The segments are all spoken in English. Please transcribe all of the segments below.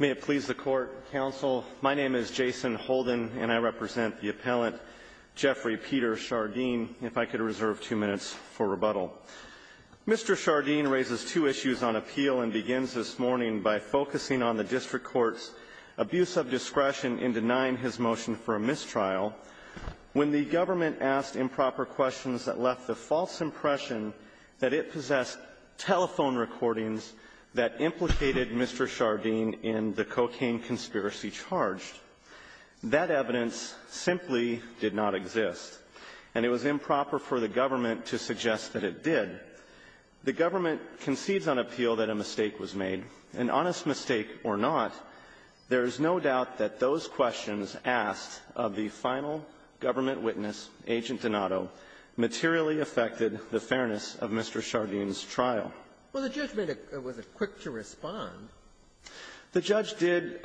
May it please the Court, Counsel. My name is Jason Holden, and I represent the appellant Geoffrey Peter Schardien. If I could reserve two minutes for rebuttal. Mr. Schardien raises two issues on appeal and begins this morning by focusing on the District Court's abuse of discretion in denying his motion for a mistrial when the government asked improper questions that left the false impression that it possessed telephone recordings that implicated Mr. Schardien in the cocaine conspiracy charged. That evidence simply did not exist, and it was improper for the government to suggest that it did. The government concedes on appeal that a mistake was made. An honest mistake or not, there is no doubt that those questions asked of the final government witness, Agent Donato, materially affected the fairness of Mr. Schardien's trial. Well, the judge made a quick to respond. The judge did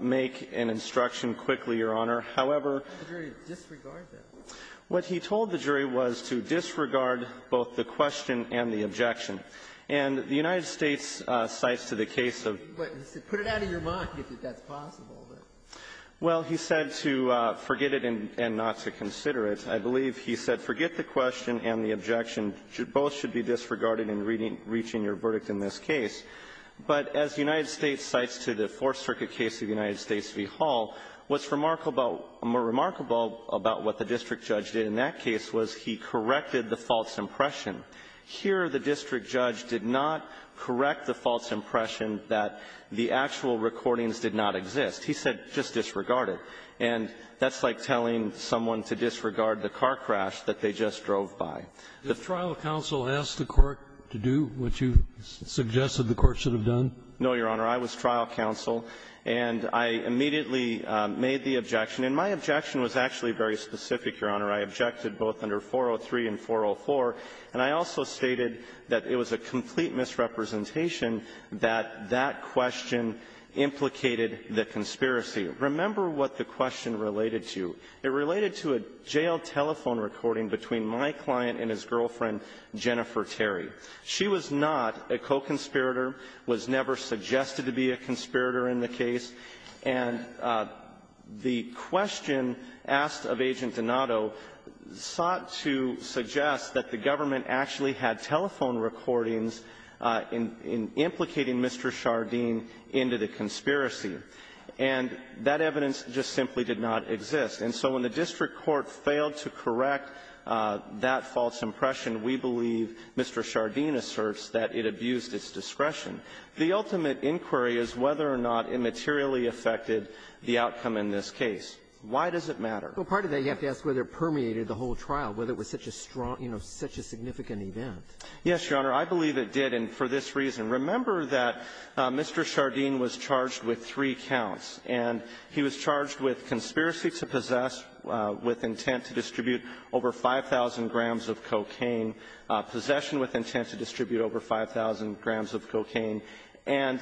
make an instruction quickly, Your Honor. However — How did the jury disregard that? What he told the jury was to disregard both the question and the objection. And the United States cites to the case of — But he said put it out of your mind if that's possible. Well, he said to forget it and not to consider it. I believe he said forget the question and the objection. Both should be disregarded in reaching your verdict in this case. But as the United States cites to the Fourth Circuit case of the United States v. Hall, what's remarkable about what the district judge did in that case was he corrected the false impression. Here, the district judge did not correct the false impression that the actual recordings did not exist. He said just disregard it. And that's like telling someone to disregard the car crash that they just drove by. Did trial counsel ask the Court to do what you suggested the Court should have done? No, Your Honor. I was trial counsel. And I immediately made the objection. And my objection was actually very specific, Your Honor. I objected both under 403 and 404. And I also stated that it was a complete misrepresentation that that question implicated the conspiracy. Remember what the question related to. It related to a jail telephone recording between my client and his girlfriend, Jennifer Terry. She was not a co-conspirator, was never suggested to be a conspirator in the case. And the question asked of Agent Donato sought to suggest that the government And that evidence just simply did not exist. And so when the district court failed to correct that false impression, we believe Mr. Chardin asserts that it abused its discretion. The ultimate inquiry is whether or not it materially affected the outcome in this case. Why does it matter? Well, part of that, you have to ask whether it permeated the whole trial, whether it was such a strong, you know, such a significant event. Yes, Your Honor. I believe it did. And for this reason, remember that Mr. Chardin was charged with three counts. And he was charged with conspiracy to possess with intent to distribute over 5,000 grams of cocaine, possession with intent to distribute over 5,000 grams of cocaine, and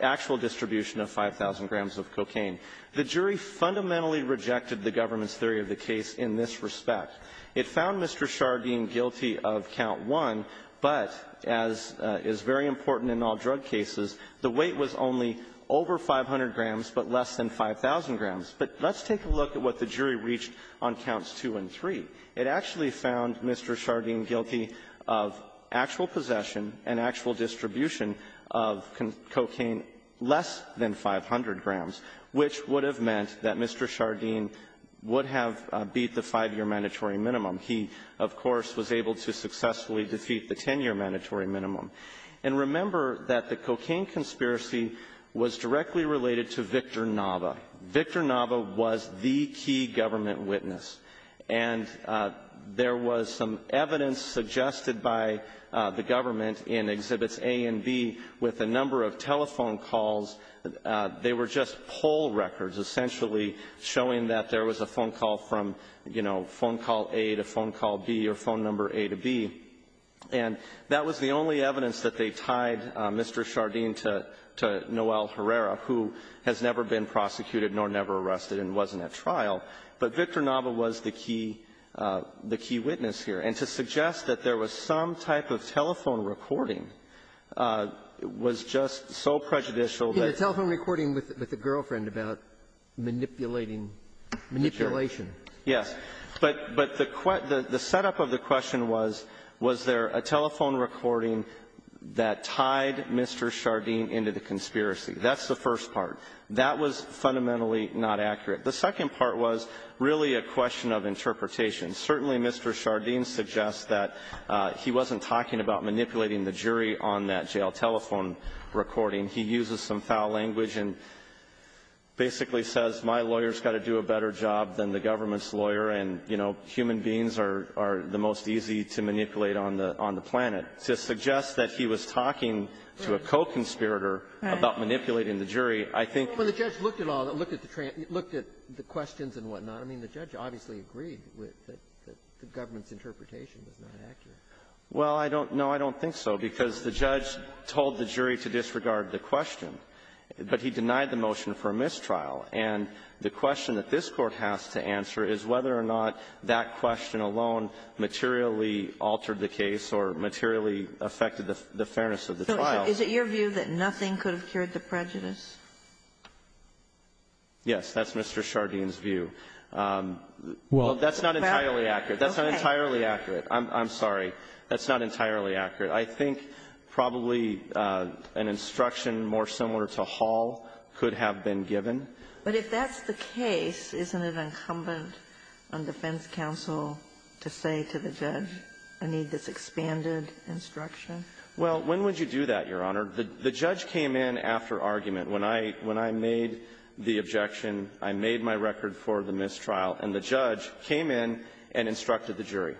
actual distribution of 5,000 grams of cocaine. The jury fundamentally rejected the government's theory of the case in this respect. It found Mr. Chardin guilty of count one, but as is very important in all drug cases, the weight was only over 500 grams, but less than 5,000 grams. But let's take a look at what the jury reached on counts two and three. It actually found Mr. Chardin guilty of actual possession and actual distribution of cocaine less than 500 grams, which would have meant that Mr. Chardin would have beat the five-year mandatory minimum. He, of course, was able to successfully defeat the 10-year mandatory minimum. And remember that the cocaine conspiracy was directly related to Victor Nava. Victor Nava was the key government witness. And there was some evidence suggested by the government in Exhibits A and B with a number of telephone calls. They were just poll records, essentially showing that there was a phone call from, you know, phone call A to phone call B or phone number A to B. And that was the only evidence that they tied Mr. Chardin to Noel Herrera, who has never been prosecuted nor never arrested and wasn't at trial. But Victor Nava was the key witness here. And to suggest that there was some type of telephone recording was just so prejudicial that the telephone recording with the girlfriend about manipulating, manipulation. Yes. But the setup of the question was, was there a telephone recording that tied Mr. Chardin into the conspiracy? That's the first part. That was fundamentally not accurate. The second part was really a question of interpretation. Certainly, Mr. Chardin suggests that he wasn't talking about manipulating the jury on that jail telephone recording. He uses some foul language and basically says, my lawyer's got to do a better job than the government's lawyer, and, you know, human beings are the most easy to manipulate on the planet. To suggest that he was talking to a co-conspirator about manipulating the jury, I think — Well, the judge looked at all of it, looked at the questions and whatnot. I mean, the judge obviously agreed that the government's interpretation was not accurate. Well, I don't — no, I don't think so, because the judge told the jury to disregard the question. But he denied the motion for mistrial. And the question that this Court has to answer is whether or not that question alone materially altered the case or materially affected the fairness of the trial. So is it your view that nothing could have cured the prejudice? Yes. That's Mr. Chardin's view. Well, that's not entirely accurate. That's not entirely accurate. I'm sorry. That's not entirely accurate. I think probably an instruction more similar to Hall could have been given. But if that's the case, isn't it incumbent on defense counsel to say to the judge, I need this expanded instruction? Well, when would you do that, Your Honor? The judge came in after argument. When I — when I made the objection, I made my record for the mistrial, and the judge came in and instructed the jury.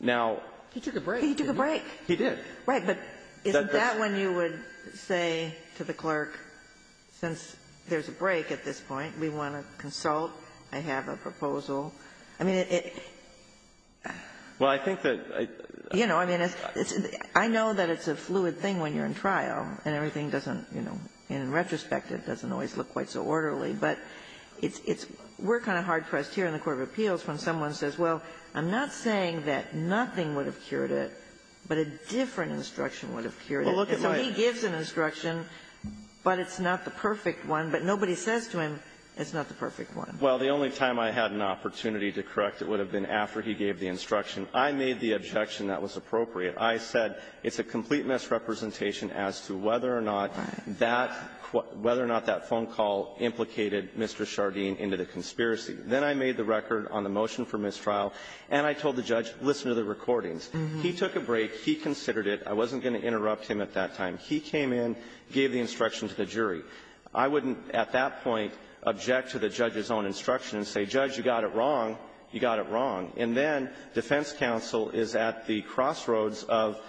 Now — He took a break. He took a break. He did. Right. But isn't that when you would say to the clerk, since there's a break at this point, we want to consult, I have a proposal? I mean, it — Well, I think that I — You know, I mean, it's — I know that it's a fluid thing when you're in trial, and everything doesn't, you know, in retrospect, it doesn't always look quite so orderly. But it's — we're kind of hard-pressed here in the court of appeals when someone says, well, I'm not saying that nothing would have cured it, but a different instruction would have cured it. And so he gives an instruction, but it's not the perfect one. But nobody says to him, it's not the perfect one. Well, the only time I had an opportunity to correct it would have been after he gave the instruction. I made the objection that was appropriate. I said it's a complete misrepresentation as to whether or not that — whether or not that phone call implicated Mr. Shardeen into the conspiracy. Then I made the record on the motion for mistrial, and I told the judge, listen to the recordings. He took a break. He considered it. I wasn't going to interrupt him at that time. He came in, gave the instruction to the jury. I wouldn't, at that point, object to the judge's own instruction and say, Judge, you got it wrong. You got it wrong. And then defense counsel is at the crossroads of,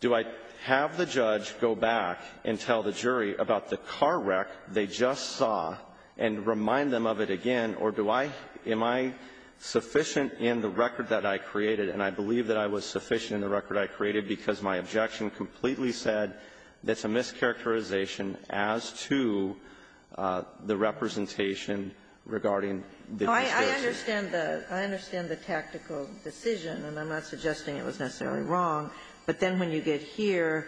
do I have the judge go back and tell the jury about the car wreck they just saw and remind them of it again, or do I — am I sufficient in the record that I created? And I believe that I was sufficient in the record I created because my objection completely said that's a mischaracterization as to the representation regarding the distortions. I understand the — I understand the tactical decision, and I'm not suggesting it was necessarily wrong. But then when you get here,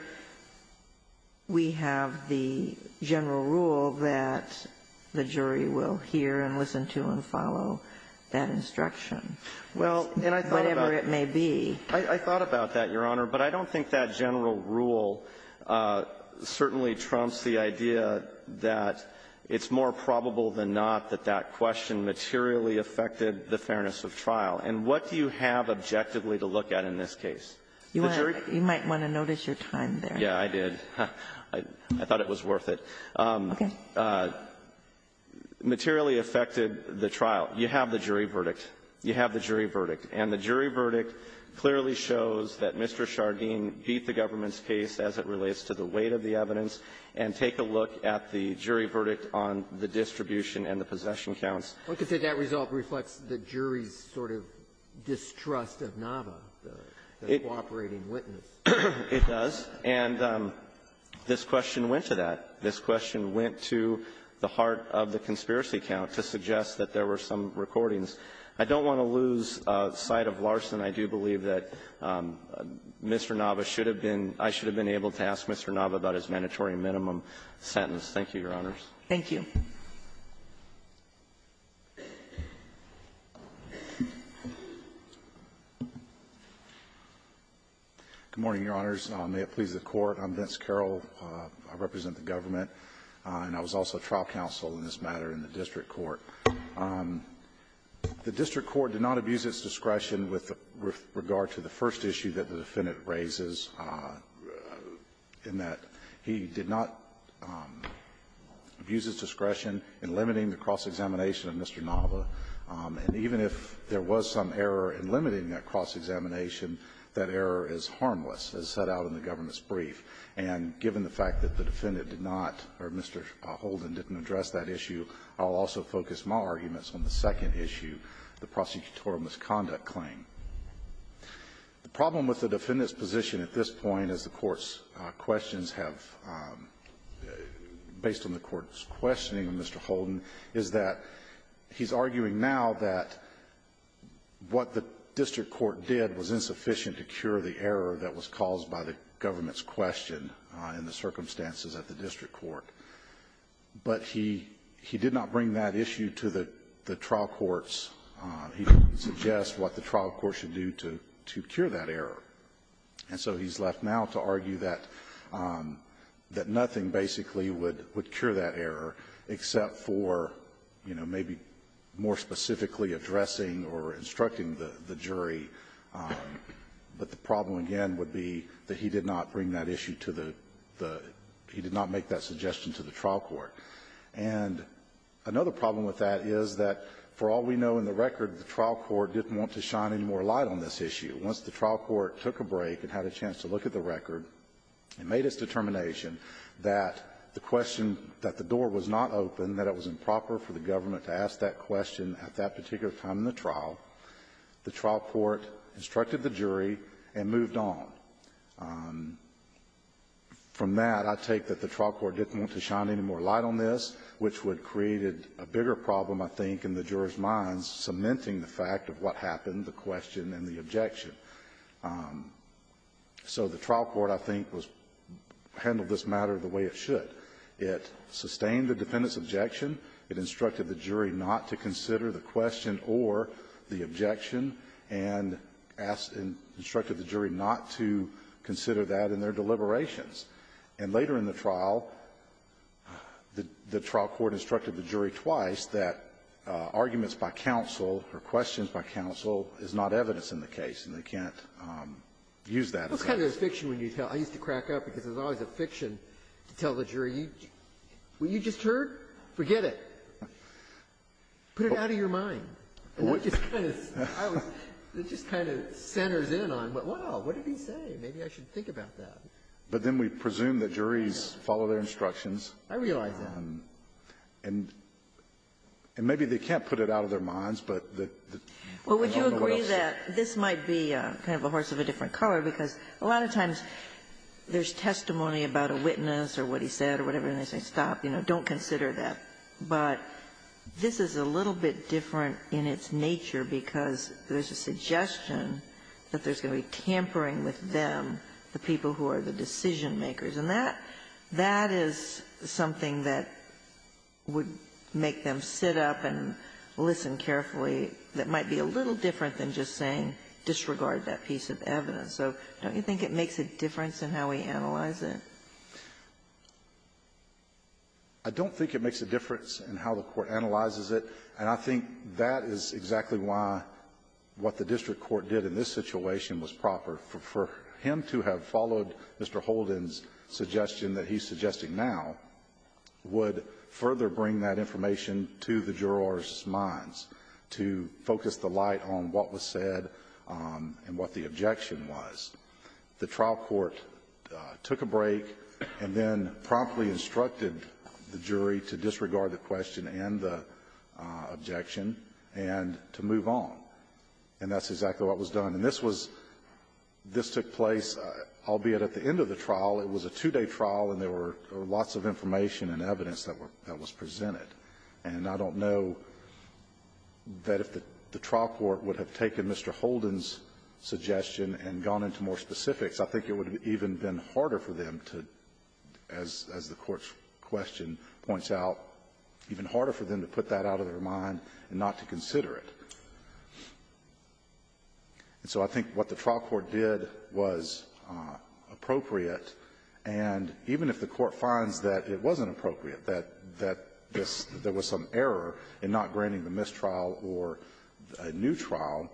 we have the general rule that the jury will hear and listen to and follow that instruction, whatever it may be. Well, and I thought about that, Your Honor, but I don't think that general rule certainly trumps the idea that it's more probable than not that that question materially affected the fairness of trial. And what do you have objectively to look at in this case? The jury — You might want to notice your time there. Yeah, I did. I thought it was worth it. Okay. Materially affected the trial. You have the jury verdict. You have the jury verdict. And the jury verdict clearly shows that Mr. Shargeen beat the government's case as it relates to the weight of the evidence. And take a look at the jury verdict on the distribution and the possession counts. One could say that result reflects the jury's sort of distrust of Nava, the cooperating witness. It does. And this question went to that. This question went to the heart of the conspiracy count to suggest that there were some recordings. I don't want to lose sight of Larson. I do believe that Mr. Nava should have been — I should have been able to ask Mr. Nava about his mandatory minimum sentence. Thank you, Your Honors. Thank you. Good morning, Your Honors. May it please the Court. I'm Vince Carroll. I represent the government. And I was also trial counsel in this matter in the district court. The district court did not abuse its discretion with regard to the first issue that the defendant raises, in that he did not abuse his discretion in limiting the cross-examination of Mr. Nava. And even if there was some error in limiting that cross-examination, that error is harmless, as set out in the government's brief. And given the fact that the defendant did not, or Mr. Holden didn't address that issue, I'll also focus my arguments on the second issue, the prosecutorial misconduct claim. The problem with the defendant's position at this point, as the Court's questions have — based on the Court's questioning of Mr. Holden, is that he's arguing now that what the district court did was insufficient to cure the error that was caused by the government's question in the circumstances at the district court. But he — he did not bring that issue to the trial courts. He didn't suggest what the trial court should do to cure that error. And so he's left now to argue that nothing basically would cure that error, except for, you know, maybe more specifically addressing or instructing the jury. But the problem again would be that he did not bring that issue to the — he did not make that suggestion to the trial court. And another problem with that is that, for all we know in the record, the trial court didn't want to shine any more light on this issue. Once the trial court took a break and had a chance to look at the record and made its determination that the question — that the door was not open, that it was improper for the government to ask that question at that particular time in the trial, the trial court instructed the jury and moved on. From that, I take that the trial court didn't want to shine any more light on this, which would have created a bigger problem, I think, in the jurors' minds, cementing the fact of what happened, the question and the objection. So the trial court, I think, was — handled this matter the way it should. It sustained the defendant's objection. It instructed the jury not to consider the question or the objection, and asked — instructed the jury not to consider that in their deliberations. And later in the trial, the trial court instructed the jury twice that arguments by counsel or questions by counsel is not evidence in the case, and they can't use that as evidence. Sotomayor, I used to crack up because there's always a fiction to tell the jury. What you just heard, forget it. Put it out of your mind. It just kind of centers in on, wow, what did he say? Maybe I should think about that. But then we presume that juries follow their instructions. I realize that. And maybe they can't put it out of their minds, but the — Well, would you agree that this might be kind of a horse of a different color, because a lot of times there's testimony about a witness or what he said or whatever, and they say, stop, don't consider that. But this is a little bit different in its nature because there's a suggestion that there's going to be tampering with them, the people who are the decision makers. And that — that is something that would make them sit up and listen carefully, that might be a little different than just saying disregard that piece of evidence. So don't you think it makes a difference in how we analyze it? I don't think it makes a difference in how the court analyzes it. And I think that is exactly why what the district court did in this situation was proper. For him to have followed Mr. Holden's suggestion that he's suggesting now would further bring that information to the jurors' minds, to focus the light on what was said and what the objection was. The trial court took a break and then promptly instructed the jury to disregard the question and the objection and to move on. And that's exactly what was done. And this was — this took place, albeit at the end of the trial, it was a two-day trial, and there were lots of information and evidence that was presented. And I don't know that if the trial court would have taken Mr. Holden's suggestion and gone into more specifics, I think it would have even been harder for them to, as the Court's question points out, even harder for them to put that out of their mind and not to consider it. And so I think what the trial court did was appropriate, and even if the Court finds that it wasn't appropriate, that this — that there was some error in not granting the mistrial or a new trial,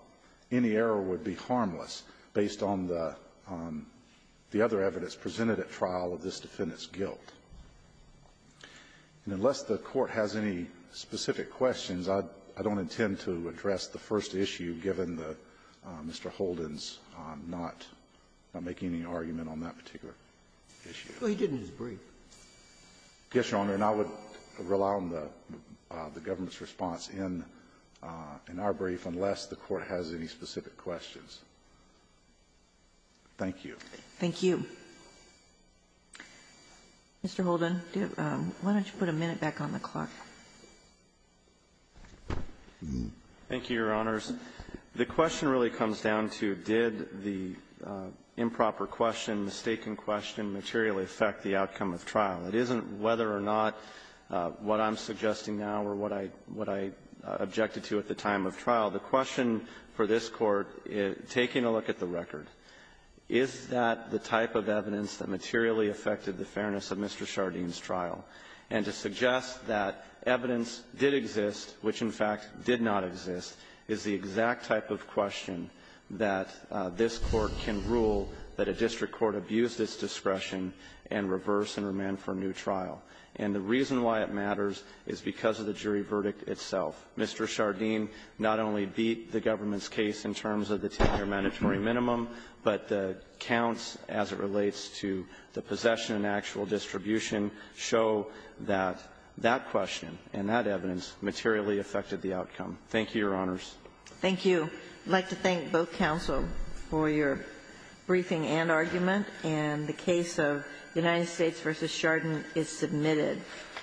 any error would be harmless based on the — on the other evidence presented at trial of this defendant's guilt. And unless the Court has any specific questions, I don't intend to address the first issue, given the — Mr. Holden's not making any argument on that particular issue. Ginsburg. He didn't just brief. Yes, Your Honor, and I would rely on the government's response in our brief, unless the Court has any specific questions. Thank you. Thank you. Mr. Holden, why don't you put a minute back on the clock? Thank you, Your Honors. The question really comes down to did the improper question, mistaken question materially affect the outcome of trial? It isn't whether or not what I'm suggesting now or what I — what I objected to at the time of trial. The question for this Court, taking a look at the record, is that the type of evidence that materially affected the fairness of Mr. Chardin's trial? And to suggest that evidence did exist, which in fact did not exist, is the exact type of question that this Court can rule that a district court abused its discretion and reversed and remanded for a new trial. And the reason why it matters is because of the jury verdict itself. Mr. Chardin not only beat the government's case in terms of the 10-year mandatory minimum, but the counts as it relates to the possession and actual distribution show that that question and that evidence materially affected the outcome. Thank you, Your Honors. Thank you. I'd like to thank both counsel for your briefing and argument. And the case of United States v. Chardin is submitted.